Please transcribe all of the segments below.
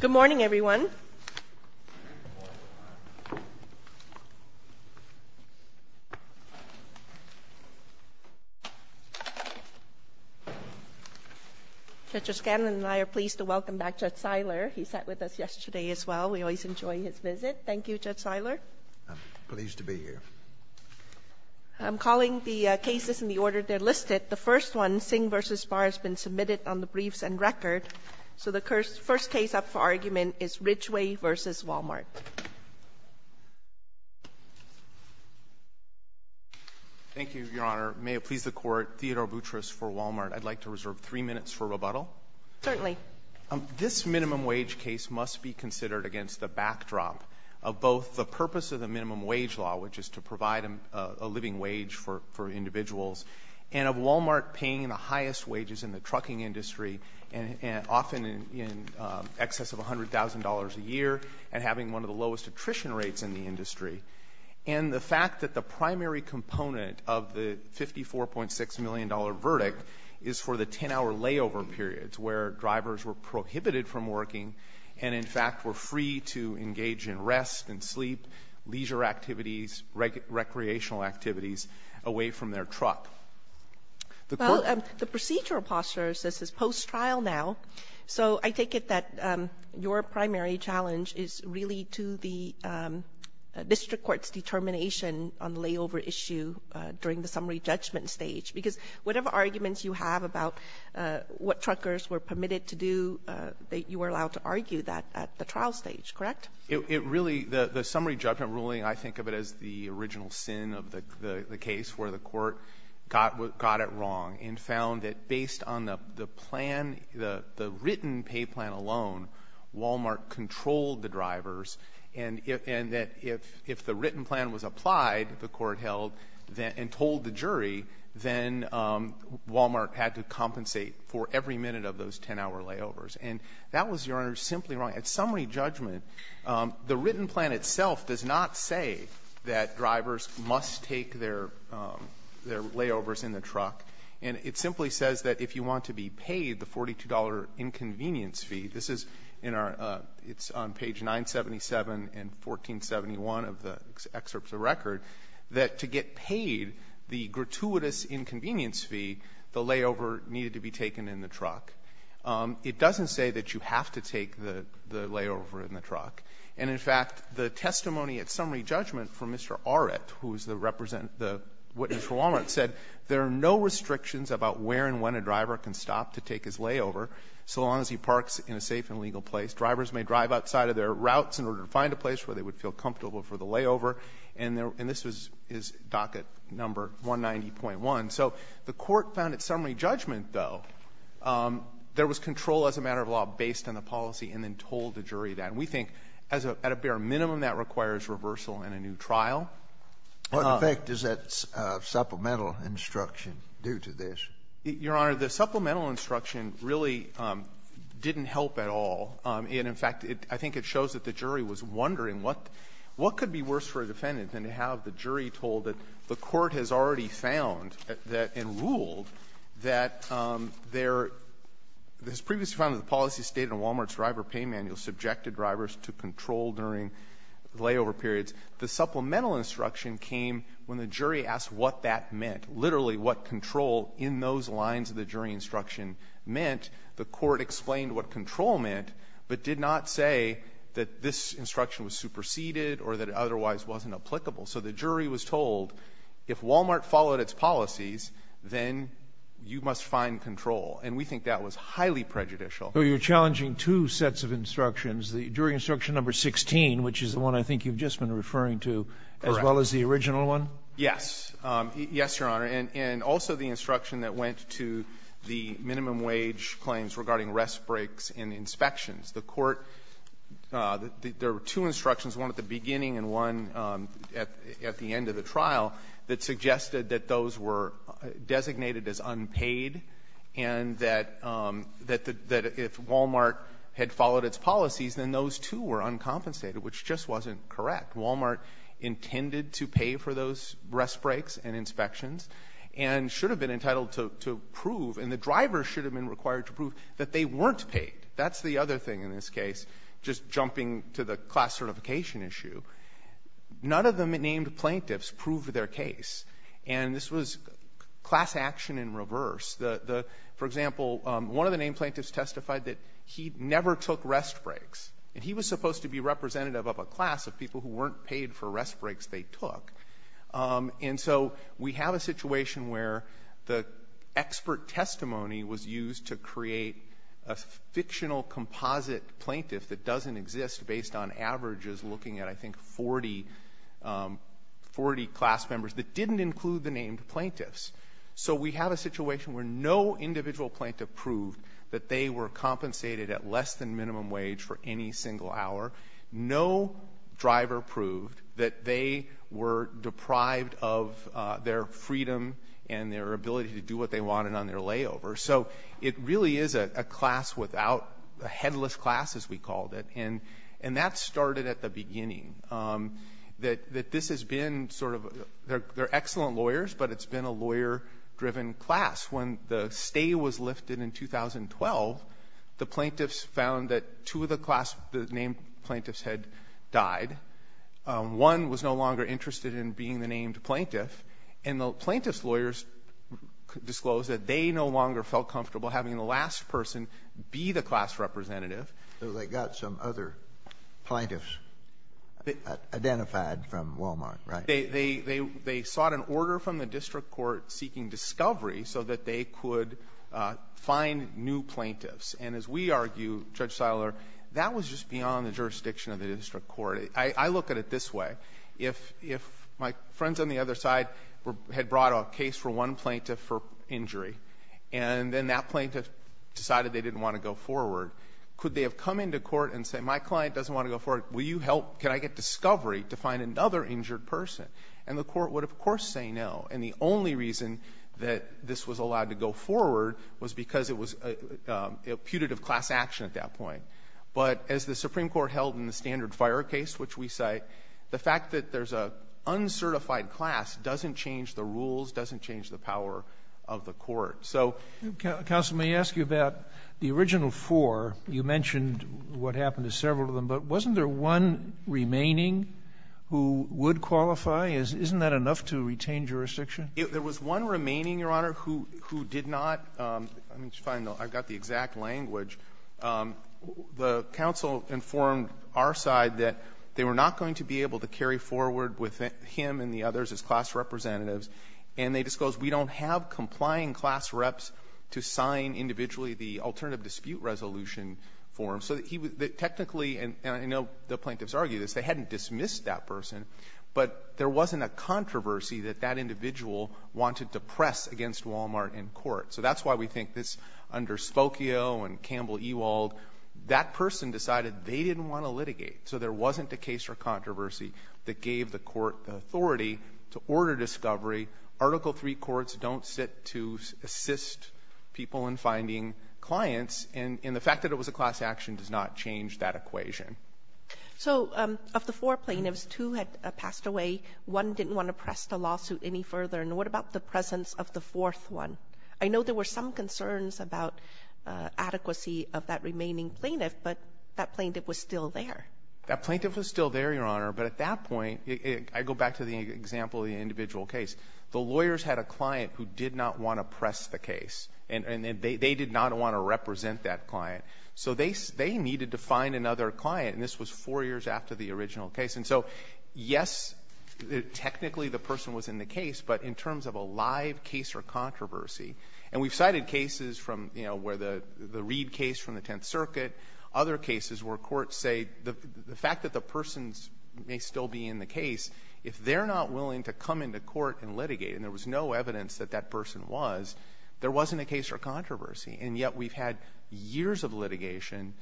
Good morning, everyone. Judge O'Scanlan and I are pleased to welcome back Judge Seiler. He sat with us yesterday as well. We always enjoy his visit. Thank you, Judge Seiler. I'm pleased to be here. I'm calling the cases in the order they're listed. The first one, Singh v. Barr, has been submitted on the briefs and record. So the first case up for argument is Ridgeway v. Wal-Mart. Thank you, Your Honor. May it please the Court, Theodore Boutrous for Wal-Mart. I'd like to reserve three minutes for rebuttal. Certainly. This minimum wage case must be considered against the backdrop of both the purpose of the minimum wage law, which is to provide a living wage for individuals, and of Wal-Mart paying the highest wages in the trucking industry, and often in excess of $100,000 a year, and having one of the lowest attrition rates in the industry, and the fact that the primary component of the $54.6 million verdict is for the 10-hour layover periods where drivers were prohibited from working and, in fact, were free to engage in rest and sleep, leisure activities, recreational activities away from their truck. The Court ---- Well, the procedural posture says it's post-trial now. So I take it that your primary challenge is really to the district court's determination on the layover issue during the summary judgment stage, because whatever arguments you have about what truckers were permitted to do, you were allowed to argue that at the trial stage, correct? It really ---- The summary judgment ruling, I think of it as the original sin of the case where the Court got it wrong and found that based on the plan, the written pay plan alone, Wal-Mart controlled the drivers, and that if the written plan was applied, the Court held and told the jury, then Wal-Mart had to compensate for every minute of those 10-hour layovers. And that was, Your Honor, simply wrong. At summary judgment, the written plan itself does not say that drivers must take their layovers in the truck. And it simply says that if you want to be paid the $42 inconvenience fee, this is in our ---- it's on page 977 and 1471 of the excerpts of the record, that to get paid the gratuitous inconvenience fee, the layover needed to be taken in the truck. It doesn't say that you have to take the layover in the truck. And, in fact, the testimony at summary judgment from Mr. Arett, who is the representative ---- the witness for Wal-Mart said there are no restrictions about where and when a driver can stop to take his layover so long as he parks in a safe and legal place. Drivers may drive outside of their routes in order to find a place where they would feel comfortable for the layover. And this is docket number 190.1. So the Court found at summary judgment, though, there was control as a matter of law based on the policy, and then told the jury that. And we think at a bare minimum, that requires reversal in a new trial. Scalia, in effect, does that supplemental instruction do to this? Your Honor, the supplemental instruction really didn't help at all. And, in fact, I think it shows that the jury was wondering what could be worse for the jury, and ruled that there was previously found that the policy stated in Wal-Mart's driver pay manual subjected drivers to control during layover periods. The supplemental instruction came when the jury asked what that meant, literally what control in those lines of the jury instruction meant. The Court explained what control meant, but did not say that this instruction was superseded or that it otherwise wasn't applicable. So the jury was told, if Wal-Mart followed its policies, then you must find control. And we think that was highly prejudicial. So you're challenging two sets of instructions, the jury instruction number 16, which is the one I think you've just been referring to, as well as the original one? Yes. Yes, Your Honor. And also the instruction that went to the minimum wage claims regarding rest breaks and inspections. The Court, there were two instructions, one at the beginning and one at the end of the trial, that suggested that those were designated as unpaid, and that if Wal-Mart had followed its policies, then those, too, were uncompensated, which just wasn't correct. Wal-Mart intended to pay for those rest breaks and inspections, and should have been entitled to prove, and the driver should have been required to prove, that they weren't unpaid. That's the other thing in this case. Just jumping to the class certification issue, none of the named plaintiffs proved their case. And this was class action in reverse. The — for example, one of the named plaintiffs testified that he never took rest breaks, and he was supposed to be representative of a class of people who weren't paid for rest breaks they took. And so we have a situation where the expert testimony was used to create a fictional composite plaintiff that doesn't exist based on averages looking at, I think, 40 — 40 class members that didn't include the named plaintiffs. So we have a situation where no individual plaintiff proved that they were compensated at less than minimum wage for any single hour. No driver proved that they were deprived of their freedom and their ability to do what they wanted on their layover. So it really is a class without — a headless class, as we called it. And that started at the beginning, that this has been sort of — they're excellent lawyers, but it's been a lawyer-driven class. When the stay was lifted in 2012, the plaintiffs found that two of the class — the named plaintiffs had died. One was no longer interested in being the named plaintiff. And the plaintiff's lawyers disclosed that they no longer felt comfortable having the last person be the class representative. So they got some other plaintiffs identified from Wal-Mart, right? They sought an order from the district court seeking discovery so that they could find new plaintiffs. And as we argue, Judge Siler, that was just beyond the jurisdiction of the district court. I look at it this way. If my friends on the other side had brought a case for one plaintiff for injury, and then that plaintiff decided they didn't want to go forward, could they have come into court and said, my client doesn't want to go forward, will you help, can I get discovery to find another injured person? And the court would, of course, say no. And the only reason that this was allowed to go forward was because it was a putative class action at that point. But as the Supreme Court held in the standard fire case, which we cite, the fact that there's an uncertified class doesn't change the rules, doesn't change the power of the court. So the court would say, well, we're going to go forward, we're going to go forward. Sotomayor, you mentioned what happened to several of them. But wasn't there one remaining who would qualify? Isn't that enough to retain jurisdiction? There was one remaining, Your Honor, who did not. I mean, it's fine, though. I've got the exact language. The counsel informed our side that they were not going to be able to carry forward with him and the others as class representatives, and they disclosed, we don't have complying class reps to sign individually the alternative dispute resolution form. So he was the technically, and I know the plaintiffs argue this, they hadn't dismissed that person, but there wasn't a controversy that that individual wanted to press against Walmart in court. So that's why we think this, under Spokio and Campbell-Ewald, that person decided they didn't want to litigate, so there wasn't a case or controversy that gave the court the authority to order discovery. Article III courts don't sit to assist people in finding clients, and the fact that it was a class action does not change that equation. So of the four plaintiffs, two had passed away, one didn't want to press the lawsuit any further. And what about the presence of the fourth one? I know there were some concerns about adequacy of that remaining plaintiff, but that plaintiff was still there. That plaintiff was still there, Your Honor, but at that point, I go back to the example of the individual case. The lawyers had a client who did not want to press the case, and they did not want to represent that client. So they needed to find another client, and this was four years after the original case. And so, yes, technically the person was in the case, but in terms of a live case or controversy, and we've cited cases from, you know, where the Reed case from the Tenth Circuit, other cases where courts say the fact that the person may still be in the case, if they're not willing to come into court and litigate, and there was no evidence that that person was, there wasn't a case or controversy. And yet we've had years of litigation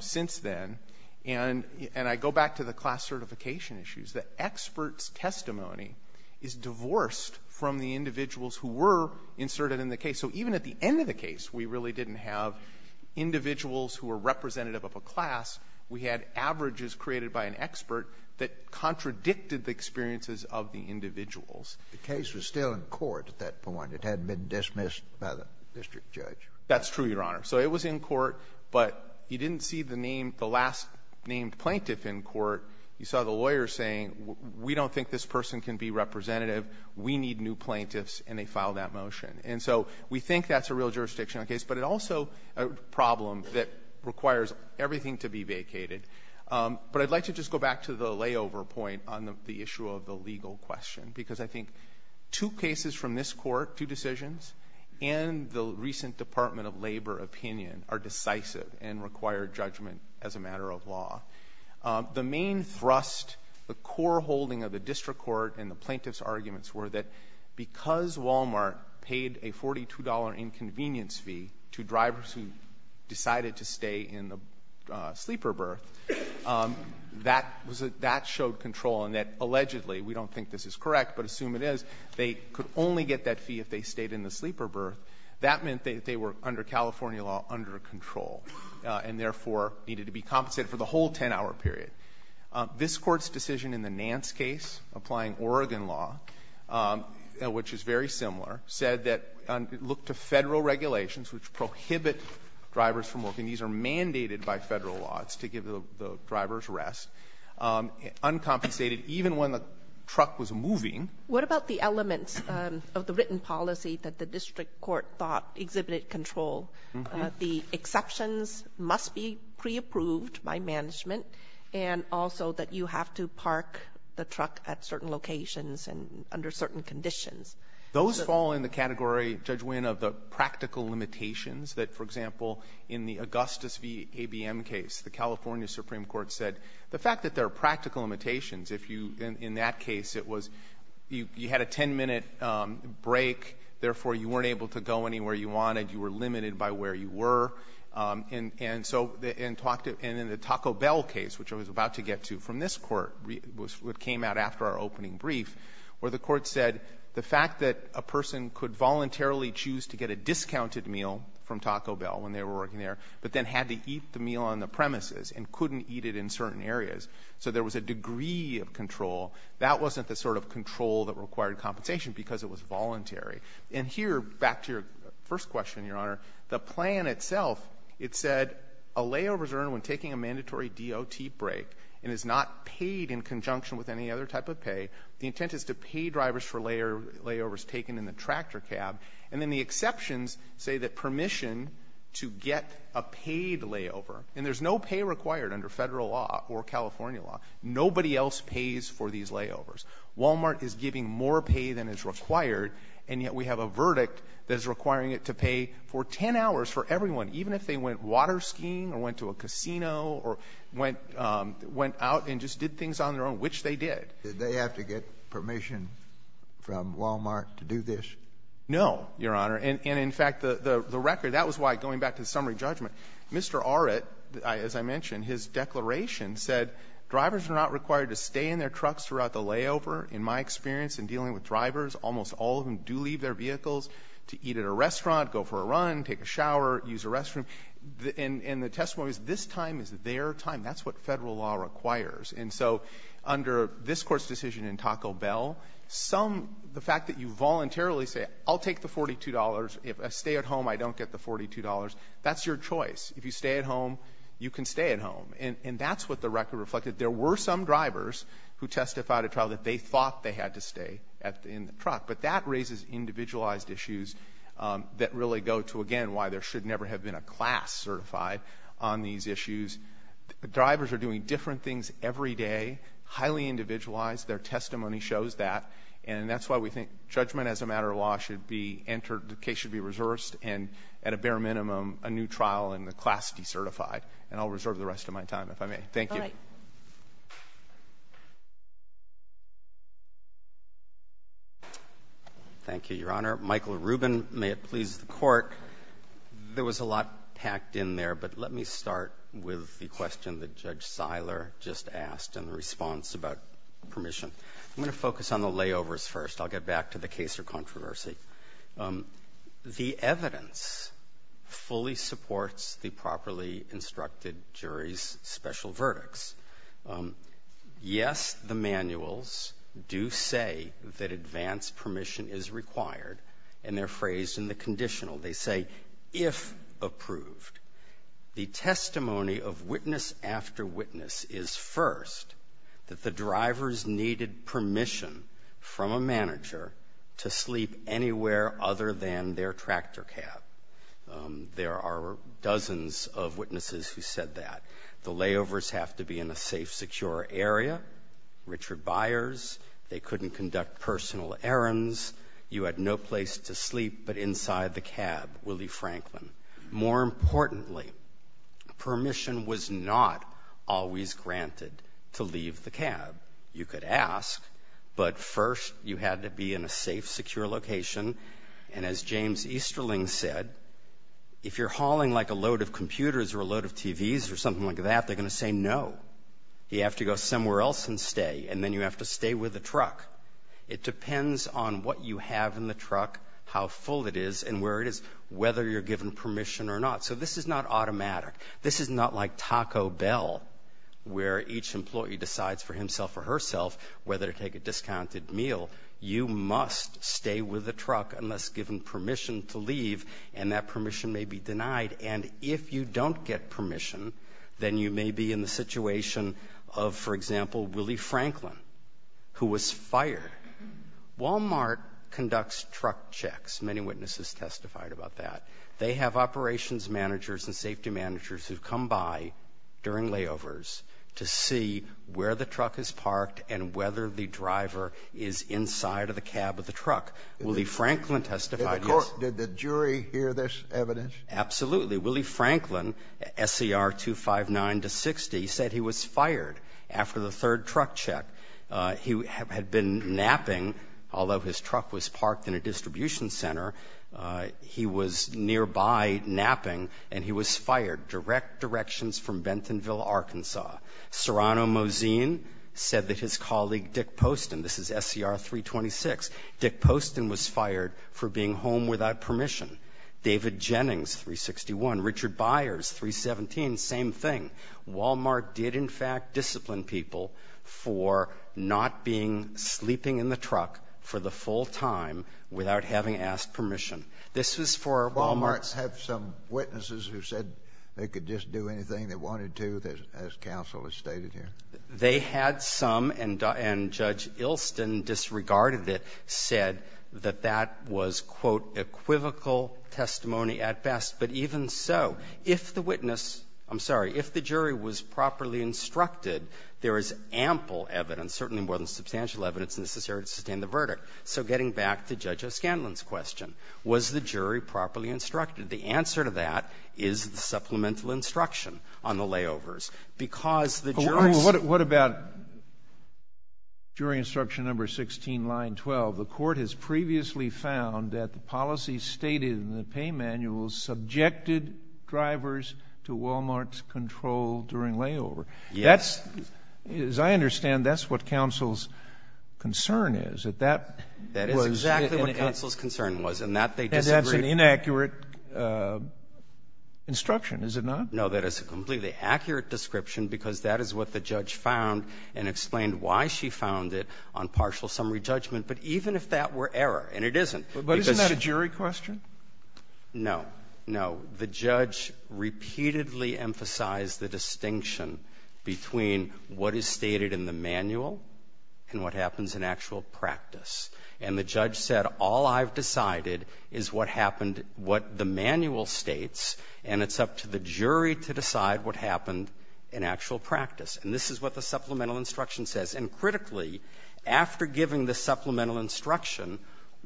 since then, and I go back to the class certification issues. The expert's testimony is divorced from the individuals who were inserted in the case. So even at the end of the case, we really didn't have individuals who were representative of a class. We had averages created by an expert that contradicted the experiences of the individuals. The case was still in court at that point. It hadn't been dismissed by the district judge. That's true, Your Honor. So it was in court, but you didn't see the name, the last named plaintiff in court. You saw the lawyer saying, we don't think this person can be representative. We need new plaintiffs, and they filed that motion. And so we think that's a real jurisdictional case, but it also is a problem that requires everything to be vacated. But I'd like to just go back to the layover point on the issue of the legal question, because I think two cases from this Court, two decisions, and the recent Department of Justice, the main thrust, the core holding of the district court and the plaintiff's arguments were that because Walmart paid a $42 inconvenience fee to drivers who decided to stay in the sleeper berth, that was a — that showed control, and that allegedly — we don't think this is correct, but assume it is — they could only get that fee if they stayed in the sleeper berth. That meant that they were, under California law, under control, and therefore needed to be compensated for the whole 10-hour period. This Court's decision in the Nance case, applying Oregon law, which is very similar, said that, look to Federal regulations which prohibit drivers from working. These are mandated by Federal law. It's to give the drivers rest. Uncompensated, even when the truck was moving. Kagan. What about the elements of the written policy that the district court was — that the district court thought exhibited control? The exceptions must be pre-approved by management, and also that you have to park the truck at certain locations and under certain conditions. Those fall in the category, Judge Wynn, of the practical limitations that, for example, in the Augustus v. ABM case, the California Supreme Court said the fact that there are practical limitations, if you — in that case, it was — you had a 10-minute break, therefore, you weren't able to go anywhere you wanted. You were limited by where you were. And so — and talked to — and in the Taco Bell case, which I was about to get to from this Court, which came out after our opening brief, where the Court said the fact that a person could voluntarily choose to get a discounted meal from Taco Bell when they were working there, but then had to eat the meal on the premises and couldn't eat it in certain areas. So there was a degree of control. That wasn't the sort of control that required compensation because it was voluntary. And here, back to your first question, Your Honor, the plan itself, it said a layover is earned when taking a mandatory DOT break and is not paid in conjunction with any other type of pay. The intent is to pay drivers for layovers taken in the tractor cab. And then the exceptions say that permission to get a paid layover — and there's no pay required under Federal law or California law. Nobody else pays for these layovers. Walmart is giving more pay than is required, and yet we have a verdict that is requiring it to pay for 10 hours for everyone, even if they went water skiing or went to a casino or went — went out and just did things on their own, which they did. Did they have to get permission from Walmart to do this? No, Your Honor. And in fact, the — the record — that was why, going back to the summary judgment, Mr. Arett, as I mentioned, his declaration said drivers are not required to stay in their trucks throughout the layover. In my experience in dealing with drivers, almost all of them do leave their vehicles to eat at a restaurant, go for a run, take a shower, use a restroom. And the testimony is this time is their time. That's what Federal law requires. And so under this Court's decision in Taco Bell, some — the fact that you voluntarily say, I'll take the $42. If I stay at home, I don't get the $42, that's your choice. If you stay at home, you can stay at home. And that's what the record reflected. There were some drivers who testified at trial that they thought they had to stay in the truck. But that raises individualized issues that really go to, again, why there should never have been a class certified on these issues. Drivers are doing different things every day, highly individualized. Their testimony shows that. And that's why we think judgment as a matter of law should be entered — the case should be resourced and, at a bare minimum, a new trial in the class decertified. And I'll reserve the rest of my time, if I may. Thank you. All right. Thank you, Your Honor. Michael Rubin, may it please the Court. There was a lot packed in there, but let me start with the question that Judge Seiler just asked and the response about permission. I'm going to focus on the layovers first. I'll get back to the case or controversy. The evidence fully supports the properly instructed jury's special verdicts. Yes, the manuals do say that advanced permission is required, and they're phrased in the conditional. They say, if approved, the testimony of witness after witness is, first, that the drivers needed permission from a manager to sleep anywhere other than their tractor cab. There are dozens of witnesses who said that. The layovers have to be in a safe, secure area. Richard Byers, they couldn't conduct personal errands. You had no place to sleep but inside the cab, Willie Franklin. More importantly, permission was not always granted to leave the cab. You could ask, but first, you had to be in a safe, secure location. And as James Easterling said, if you're hauling like a load of computers or a load of TVs or something like that, they're going to say no. You have to go somewhere else and stay, and then you have to stay with the truck. It depends on what you have in the truck, how full it is, and where it is, whether you're given permission or not. So this is not automatic. This is not like Taco Bell, where each employee decides for himself or herself whether to take a discounted meal. You must stay with the truck unless given permission to leave, and that permission may be denied. And if you don't get permission, then you may be in the situation of, for example, Willie Franklin, who was fired. Walmart conducts truck checks. Many witnesses testified about that. They have operations managers and safety managers who come by during layovers to see where the truck is parked and whether the driver is inside of the cab of the truck. Willie Franklin testified this. Did the jury hear this evidence? Absolutely. Willie Franklin, SCR 259 to 60, said he was fired after the third truck check. He had been napping. Although his truck was parked in a distribution center, he was napping. He was nearby napping, and he was fired. Direct directions from Bentonville, Arkansas. Serrano Moseen said that his colleague Dick Poston, this is SCR 326, Dick Poston was fired for being home without permission. David Jennings, 361. Richard Byers, 317. Same thing. Walmart did, in fact, discipline people for not being sleeping in the truck for the full time without having asked permission. This was for Walmart's ---- Walmart had some witnesses who said they could just do anything they wanted to, as counsel has stated here. They had some, and Judge Ilston disregarded it, said that that was, quote, equivocal testimony at best. But even so, if the witness --" I'm sorry. If the jury was properly instructed, there is ample evidence, certainly more than substantial evidence, necessary to sustain the verdict. So getting back to Judge O'Scanlan's question, was the jury properly instructed? The answer to that is the supplemental instruction on the layovers. Because the jurors ---- What about jury instruction number 16, line 12? The Court has previously found that the policy stated in the pay manual subjected drivers to Walmart's control during layover. Yes. But that's, as I understand, that's what counsel's concern is, that that was ---- That is exactly what counsel's concern was, and that they disagreed. And that's an inaccurate instruction, is it not? No. That is a completely accurate description, because that is what the judge found and explained why she found it on partial summary judgment, but even if that were error, and it isn't, because ---- But isn't that a jury question? No. No. The judge repeatedly emphasized the distinction between what is stated in the manual and what happens in actual practice. And the judge said, all I've decided is what happened, what the manual states, and it's up to the jury to decide what happened in actual practice. And this is what the supplemental instruction says. And critically, after giving the supplemental instruction,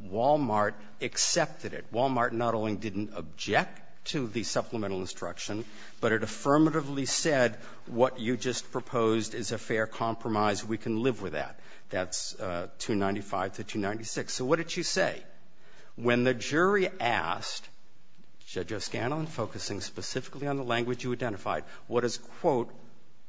Walmart accepted it. Walmart not only didn't object to the supplemental instruction, but it affirmatively said what you just proposed is a fair compromise, we can live with that. That's 295 to 296. So what did she say? When the jury asked, Judge Oscano, and focusing specifically on the language you identified, what does, quote,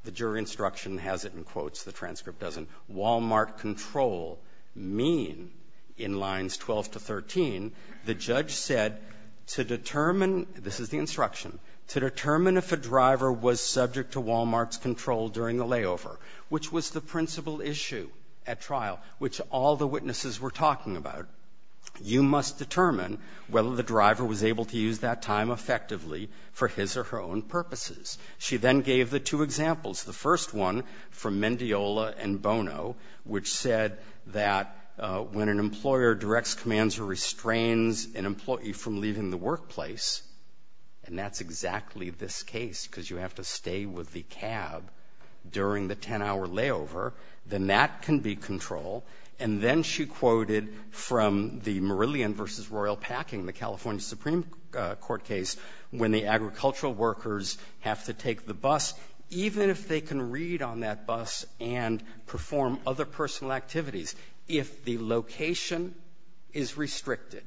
the jury instruction has it in quotes, the transcript doesn't, Walmart control mean in lines 12 to 13, the judge said, to determine, this is the instruction, to determine if a driver was subject to Walmart's control during the layover, which was the principal issue at trial, which all the witnesses were talking about, you must determine whether the driver was able to use that time effectively for his or her own purposes. She then gave the two examples, the first one from Mendiola and Bono, which said that when an employer directs, commands, or restrains an employee from leaving the workplace, and that's exactly this case, because you have to stay with the cab during the 10-hour layover, then that can be control. And then she quoted from the Meridian versus Royal Packing, the California Supreme Court case, when the agricultural workers have to take the bus, even if they can read on that bus and perform other personal activities, if the location is restricted,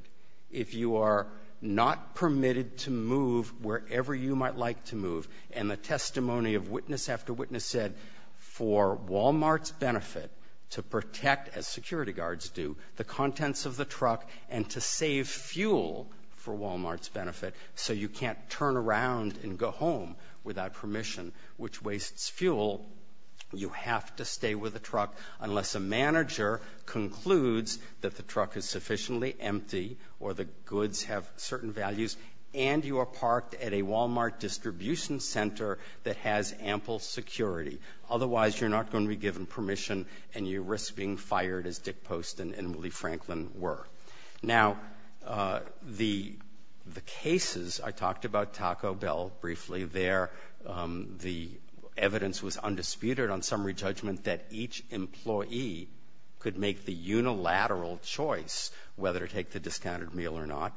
if you are not permitted to move wherever you might like to move, and the testimony of witness after witness said, for Walmart's benefit to protect, as security guards do, the contents of the truck, and to save fuel for Walmart's benefit, so you can't turn around and go home without permission, which wastes fuel, you have to stay with the truck unless a manager concludes that the truck is sufficiently empty or the goods have certain values, and you are parked at a Walmart distribution center that has ample security. Otherwise, you're not going to be given permission and you risk being fired as Dick Post and Lee Franklin were. Now, the cases, I talked about Taco Bell briefly there, the evidence was undisputed on summary judgment that each employee could make the unilateral choice whether to take the discounted meal or not.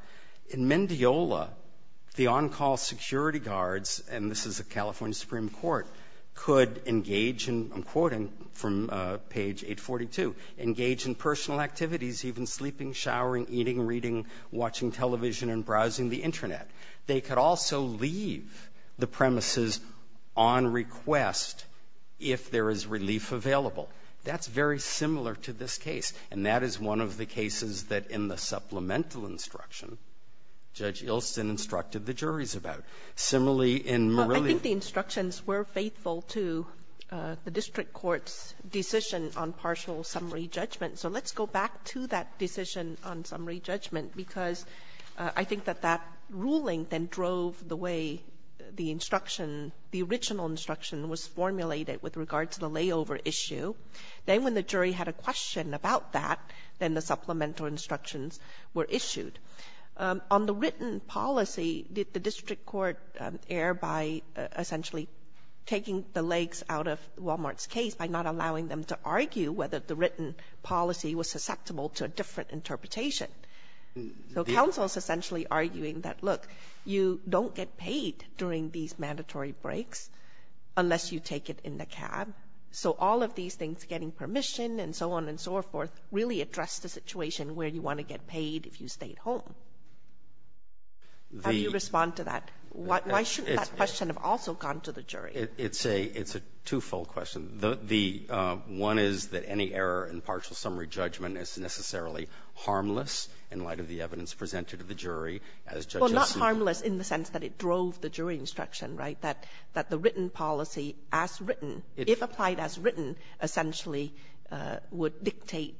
In Mendiola, the on-call security guards, and this is the California Supreme Court, could engage in, I'm quoting from page 842, engage in personal activities, even sleeping, showering, eating, reading, watching television, and browsing the Internet. They could also leave the premises on request if there is relief of available. That's very similar to this case, and that is one of the cases that in the supplemental instruction, Judge Ilsen instructed the juries about. Similarly, in Marilia ---- Kagan. I think the instructions were faithful to the district court's decision on partial summary judgment. So let's go back to that decision on summary judgment, because I think that that ruling then drove the way the instruction, the original instruction was formulated with regard to the layover issue. Then when the jury had a question about that, then the supplemental instructions were issued. On the written policy, did the district court err by essentially taking the legs out of Wal-Mart's case by not allowing them to argue whether the written policy was susceptible to a different interpretation? So counsel is essentially arguing that, look, you don't get paid during these mandatory breaks unless you take it in the cab. So all of these things, getting permission and so on and so forth, really address the situation where you want to get paid if you stay at home. How do you respond to that? Why shouldn't that question have also gone to the jury? It's a two-fold question. The one is that any error in partial summary judgment is necessarily harmless in light of the evidence presented to the jury as Judge Ilsen ---- Well, not harmless in the sense that it drove the jury instruction, right, that the written policy as written, if applied as written, essentially would dictate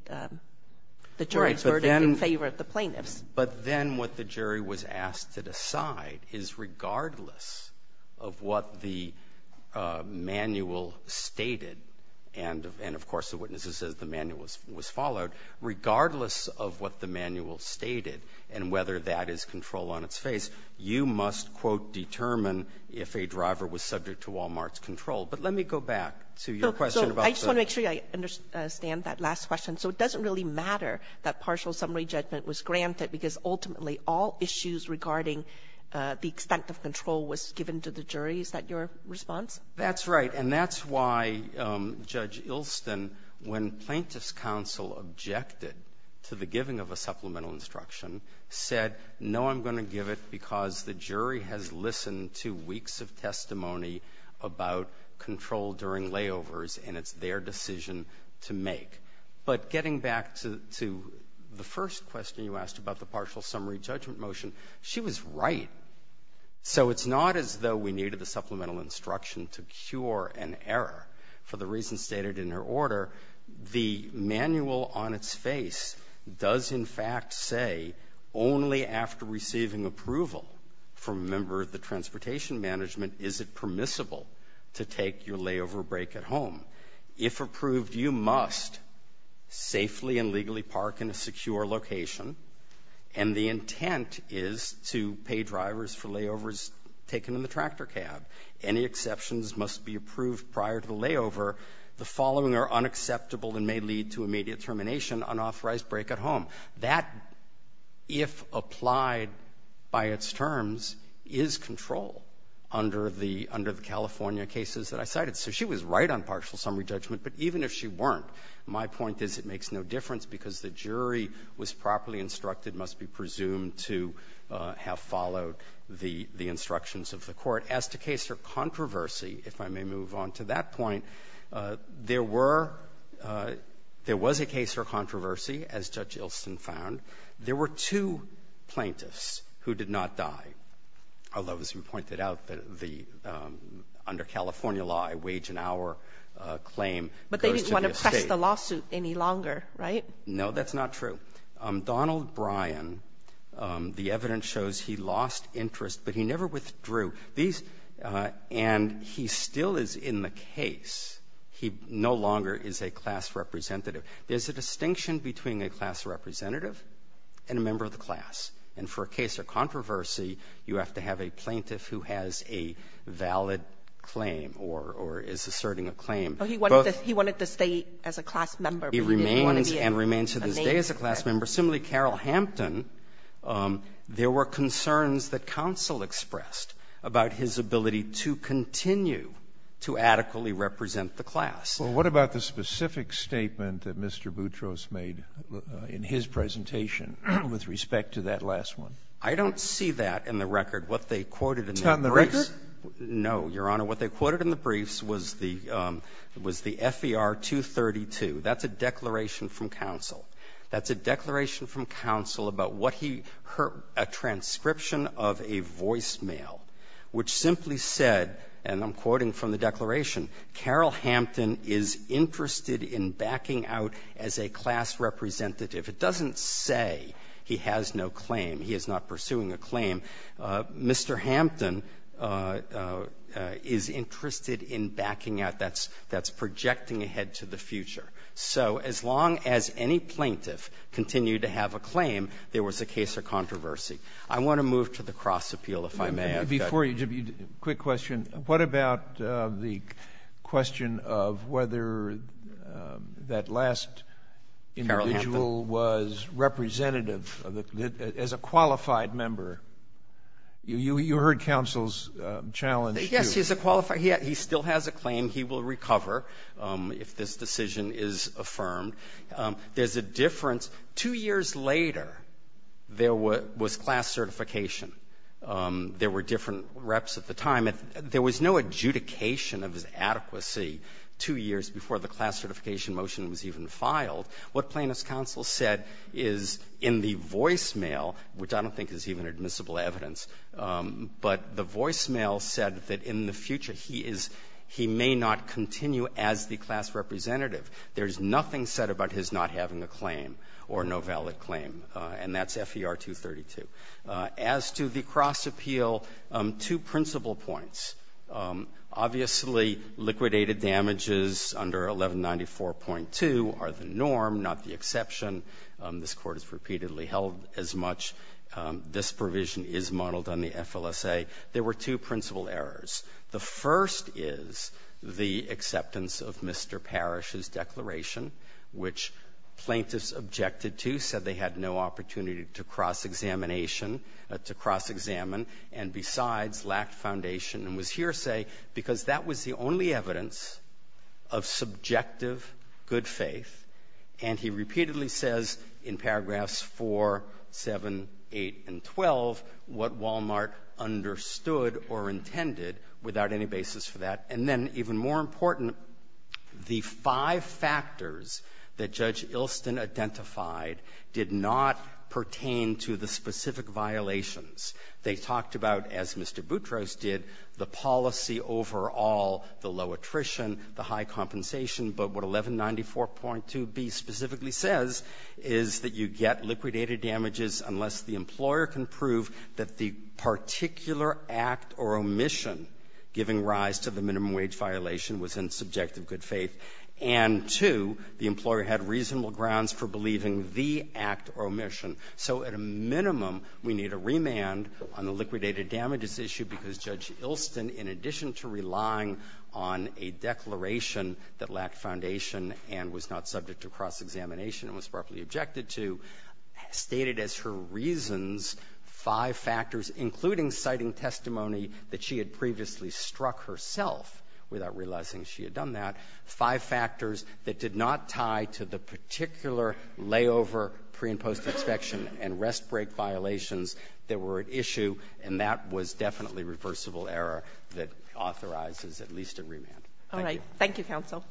the jury's verdict in favor of the plaintiffs. But then what the jury was asked to decide is regardless of what the manual stated and of course the witnesses said the manual was followed, regardless of what the manual stated and whether that is control on its face, you must, quote, determine if a driver was subject to Wal-Mart's control. But let me go back to your question about the ---- So I just want to make sure you understand that last question. So it doesn't really matter that partial summary judgment was granted because ultimately all issues regarding the extent of control was given to the jury. Is that your response? That's right. And that's why Judge Ilsen, when Plaintiffs' Counsel objected to the giving of a supplemental instruction, said, no, I'm going to give it because the jury has listened to weeks of testimony about control during layovers, and it's their decision to make. But getting back to the first question you asked about the partial summary judgment motion, she was right. So it's not as though we needed the supplemental instruction to cure an error. For the reasons stated in her order, the manual on its face does, in fact, say only after receiving approval from a member of the transportation management is it permissible to take your layover break at home. If approved, you must safely and legally park in a secure location, and the intent is to pay drivers for layovers taken in the tractor cab. Any exceptions must be approved prior to the layover. The following are unacceptable and may lead to immediate termination, unauthorized break at home. That, if applied by its terms, is control under the California cases that I cited. So she was right on partial summary judgment. But even if she weren't, my point is it makes no difference because the jury was properly instructed, must be presumed to have followed the instructions of the Court. As to case or controversy, if I may move on to that point, there were – there was a case or controversy, as Judge Ilson found. There were two plaintiffs who did not die, although, as we pointed out, the – under California law, a wage and hour claim goes to the estate. Kagan. But they didn't want to press the lawsuit any longer, right? No, that's not true. Donald Bryan, the evidence shows he lost interest, but he never withdrew. These – and he still is in the case. He no longer is a class representative. There's a distinction between a class representative and a member of the class. And for a case or controversy, you have to have a plaintiff who has a valid claim or – or is asserting a claim. But he wanted to stay as a class member, but he didn't want to be a – a name. He remains and remains to this day as a class member. Similarly, Carroll Hampton, there were concerns that counsel expressed about his ability to continue to adequately represent the class. Well, what about the specific statement that Mr. Boutros made in his presentation with respect to that last one? I don't see that in the record. What they quoted in the briefs — It's not in the record? No, Your Honor. What they quoted in the briefs was the – was the FER-232. That's a declaration from counsel. That's a declaration from counsel about what he – a transcription of a voicemail which simply said, and I'm quoting from the declaration, Carroll Hampton is interested in backing out as a class representative. It doesn't say he has no claim. He is not pursuing a claim. Mr. Hampton is interested in backing out. That's – that's projecting ahead to the future. So as long as any plaintiff continued to have a claim, there was a case or controversy. I want to move to the Cross Appeal, if I may. Before you, just a quick question. What about the question of whether that last individual was representative of the – as a qualified member? You heard counsel's challenge to — Yes, he's a qualified – he still has a claim. He will recover if this decision is affirmed. There's a difference. Two years later, there was class certification. There were different reps at the time. There was no adjudication of his adequacy two years before the class certification motion was even filed. What Plaintiff's counsel said is in the voicemail, which I don't think is even admissible evidence, but the voicemail said that in the future he is – he may not continue as the class representative. There's nothing said about his not having a claim or no valid claim. And that's FER 232. As to the Cross Appeal, two principal points. Obviously, liquidated damages under 1194.2 are the norm, not the exception. This Court has repeatedly held as much. This provision is modeled on the FLSA. There were two principal errors. The first is the acceptance of Mr. Parrish's declaration, which Plaintiffs objected to, said they had no opportunity to cross-examination – to cross-examine and, besides, lacked foundation and was hearsay, because that was the only evidence of subjective good faith. And he repeatedly says in paragraphs 4, 7, 8, and 12 what Wal-Mart understood or intended without any basis for that. And then, even more important, the five factors that Judge Ilston identified did not pertain to the specific violations. They talked about, as Mr. Boutros did, the policy overall, the low attrition, the high compensation. But what 1194.2b specifically says is that you get liquidated damages unless the employer can prove that the particular act or omission giving rise to the minimum wage violation was in subjective good faith, and, two, the employer had reasonable grounds for believing the act or omission. So at a minimum, we need a remand on the liquidated damages issue because Judge Ilston, in addition to relying on a declaration that lacked foundation and was not subject to cross-examination and was properly objected to, stated as her reasons five factors, including citing testimony that she had previously struck herself without realizing she had done that, five factors that did not tie to the particular layover, pre- and post-inspection, and rest-break violations that were at issue. And that was definitely reversible error that authorizes at least a remand. Thank you. Kagan. Thank you, counsel.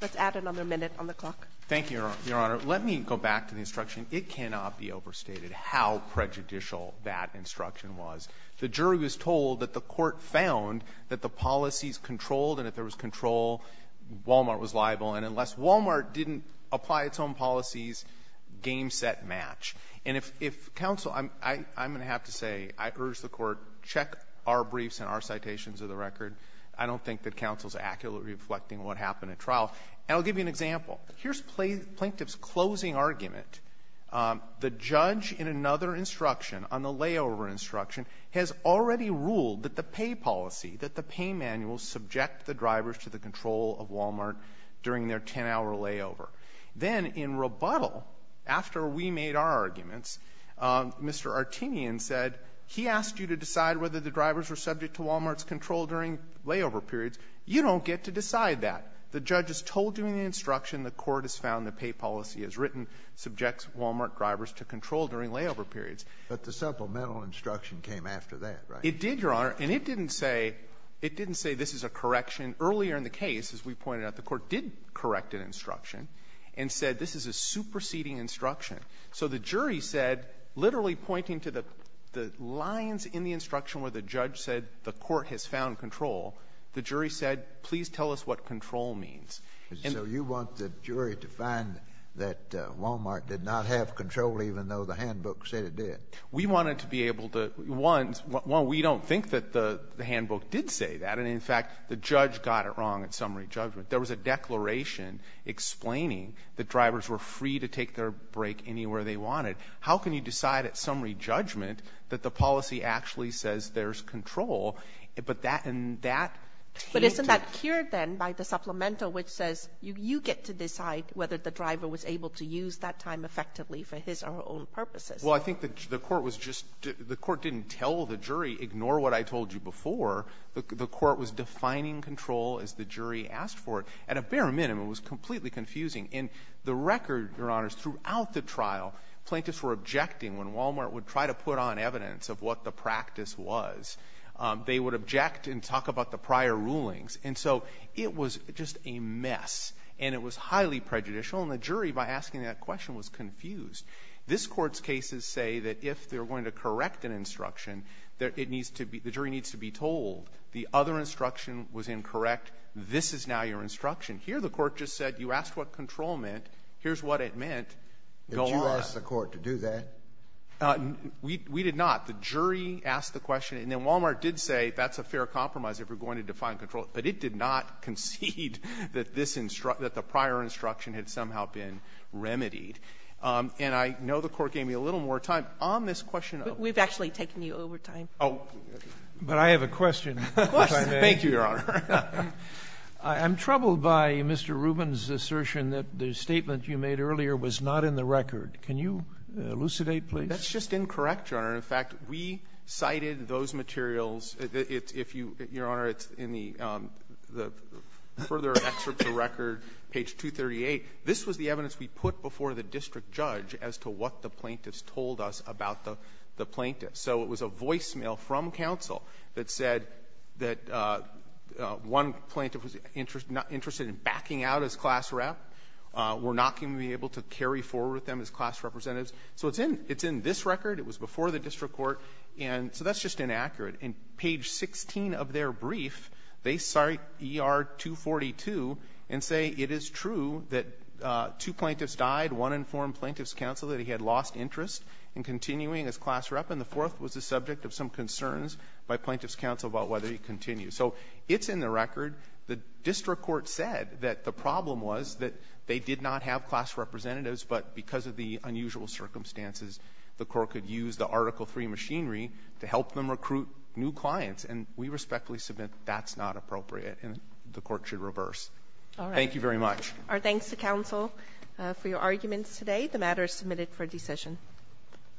Let's add another minute on the clock. Thank you, Your Honor. Let me go back to the instruction. It cannot be overstated how prejudicial that instruction was. The jury was told that the court found that the policies controlled, and if there was control, Walmart was liable. And unless Walmart didn't apply its own policies, game, set, match. And if counsel, I'm going to have to say, I urge the Court, check our briefs and our citations of the record. I don't think that counsel is accurately reflecting what happened at trial. And I'll say, in this plaintiff's closing argument, the judge in another instruction on the layover instruction has already ruled that the pay policy, that the pay manual subject the drivers to the control of Walmart during their 10-hour layover. Then in rebuttal, after we made our arguments, Mr. Artinian said, he asked you to decide whether the drivers were subject to Walmart's control during layover periods. You don't get to decide that. The judge is told during the instruction the court has found the pay policy as written subjects Walmart drivers to control during layover periods. But the supplemental instruction came after that, right? It did, Your Honor. And it didn't say this is a correction. Earlier in the case, as we pointed out, the Court did correct an instruction and said this is a superseding instruction. So the jury said, literally pointing to the lines in the instruction where the judge said the court has found control, the jury said, please tell us what control means. And so you want the jury to find that Walmart did not have control even though the handbook said it did? We wanted to be able to — one, we don't think that the handbook did say that. And, in fact, the judge got it wrong at summary judgment. There was a declaration explaining that drivers were free to take their break anywhere they wanted. How can you decide at summary judgment that the policy actually says there's control? But that and that came to — But isn't that cured then by the supplemental, which says you get to decide whether the driver was able to use that time effectively for his or her own purposes? Well, I think the court was just — the court didn't tell the jury, ignore what I told you before. The court was defining control as the jury asked for it. At a bare minimum, it was completely confusing. In the record, Your Honors, throughout the trial, plaintiffs were objecting when Walmart would try to put on evidence of what the practice was. They would object and talk about the prior rulings. And so it was just a mess, and it was highly prejudicial. And the jury, by asking that question, was confused. This Court's cases say that if they're going to correct an instruction, it needs to be — the jury needs to be told the other instruction was incorrect. This is now your instruction. Here, the court just said you asked what control meant. Here's what it meant. Go on. Did you ask the court to do that? We did not. The jury asked the question, and then Walmart did say that's a fair compromise if we're going to define control. But it did not concede that this — that the prior instruction had somehow been remedied. And I know the court gave me a little more time. On this question of — But we've actually taken you over time. Oh. But I have a question, which I may — Thank you, Your Honor. I'm troubled by Mr. Rubin's assertion that the statement you made earlier was not in the record. Can you elucidate, please? That's just incorrect, Your Honor. In fact, we cited those materials. It's — if you — Your Honor, it's in the — the further excerpts of the record, page 238. This was the evidence we put before the district judge as to what the plaintiffs told us about the — the plaintiffs. So it was a voicemail from counsel that said that one plaintiff was interested in backing out as class rep, were not going to be able to carry forward with them as class representatives. So it's in — it's in this record. It was before the district court. And so that's just inaccurate. In page 16 of their brief, they cite ER-242 and say it is true that two plaintiffs died, one informed plaintiffs' counsel that he had lost interest in continuing as class rep, and the fourth was the subject of some concerns by plaintiffs' counsel about whether he continued. So it's in the record. The district court said that the problem was that they did not have class representatives, but because of the unusual circumstances, the court could use the Article III machinery to help them recruit new clients. And we respectfully submit that's not appropriate and the court should reverse. Thank you very much. Our thanks to counsel for your arguments today. The matter is submitted for decision.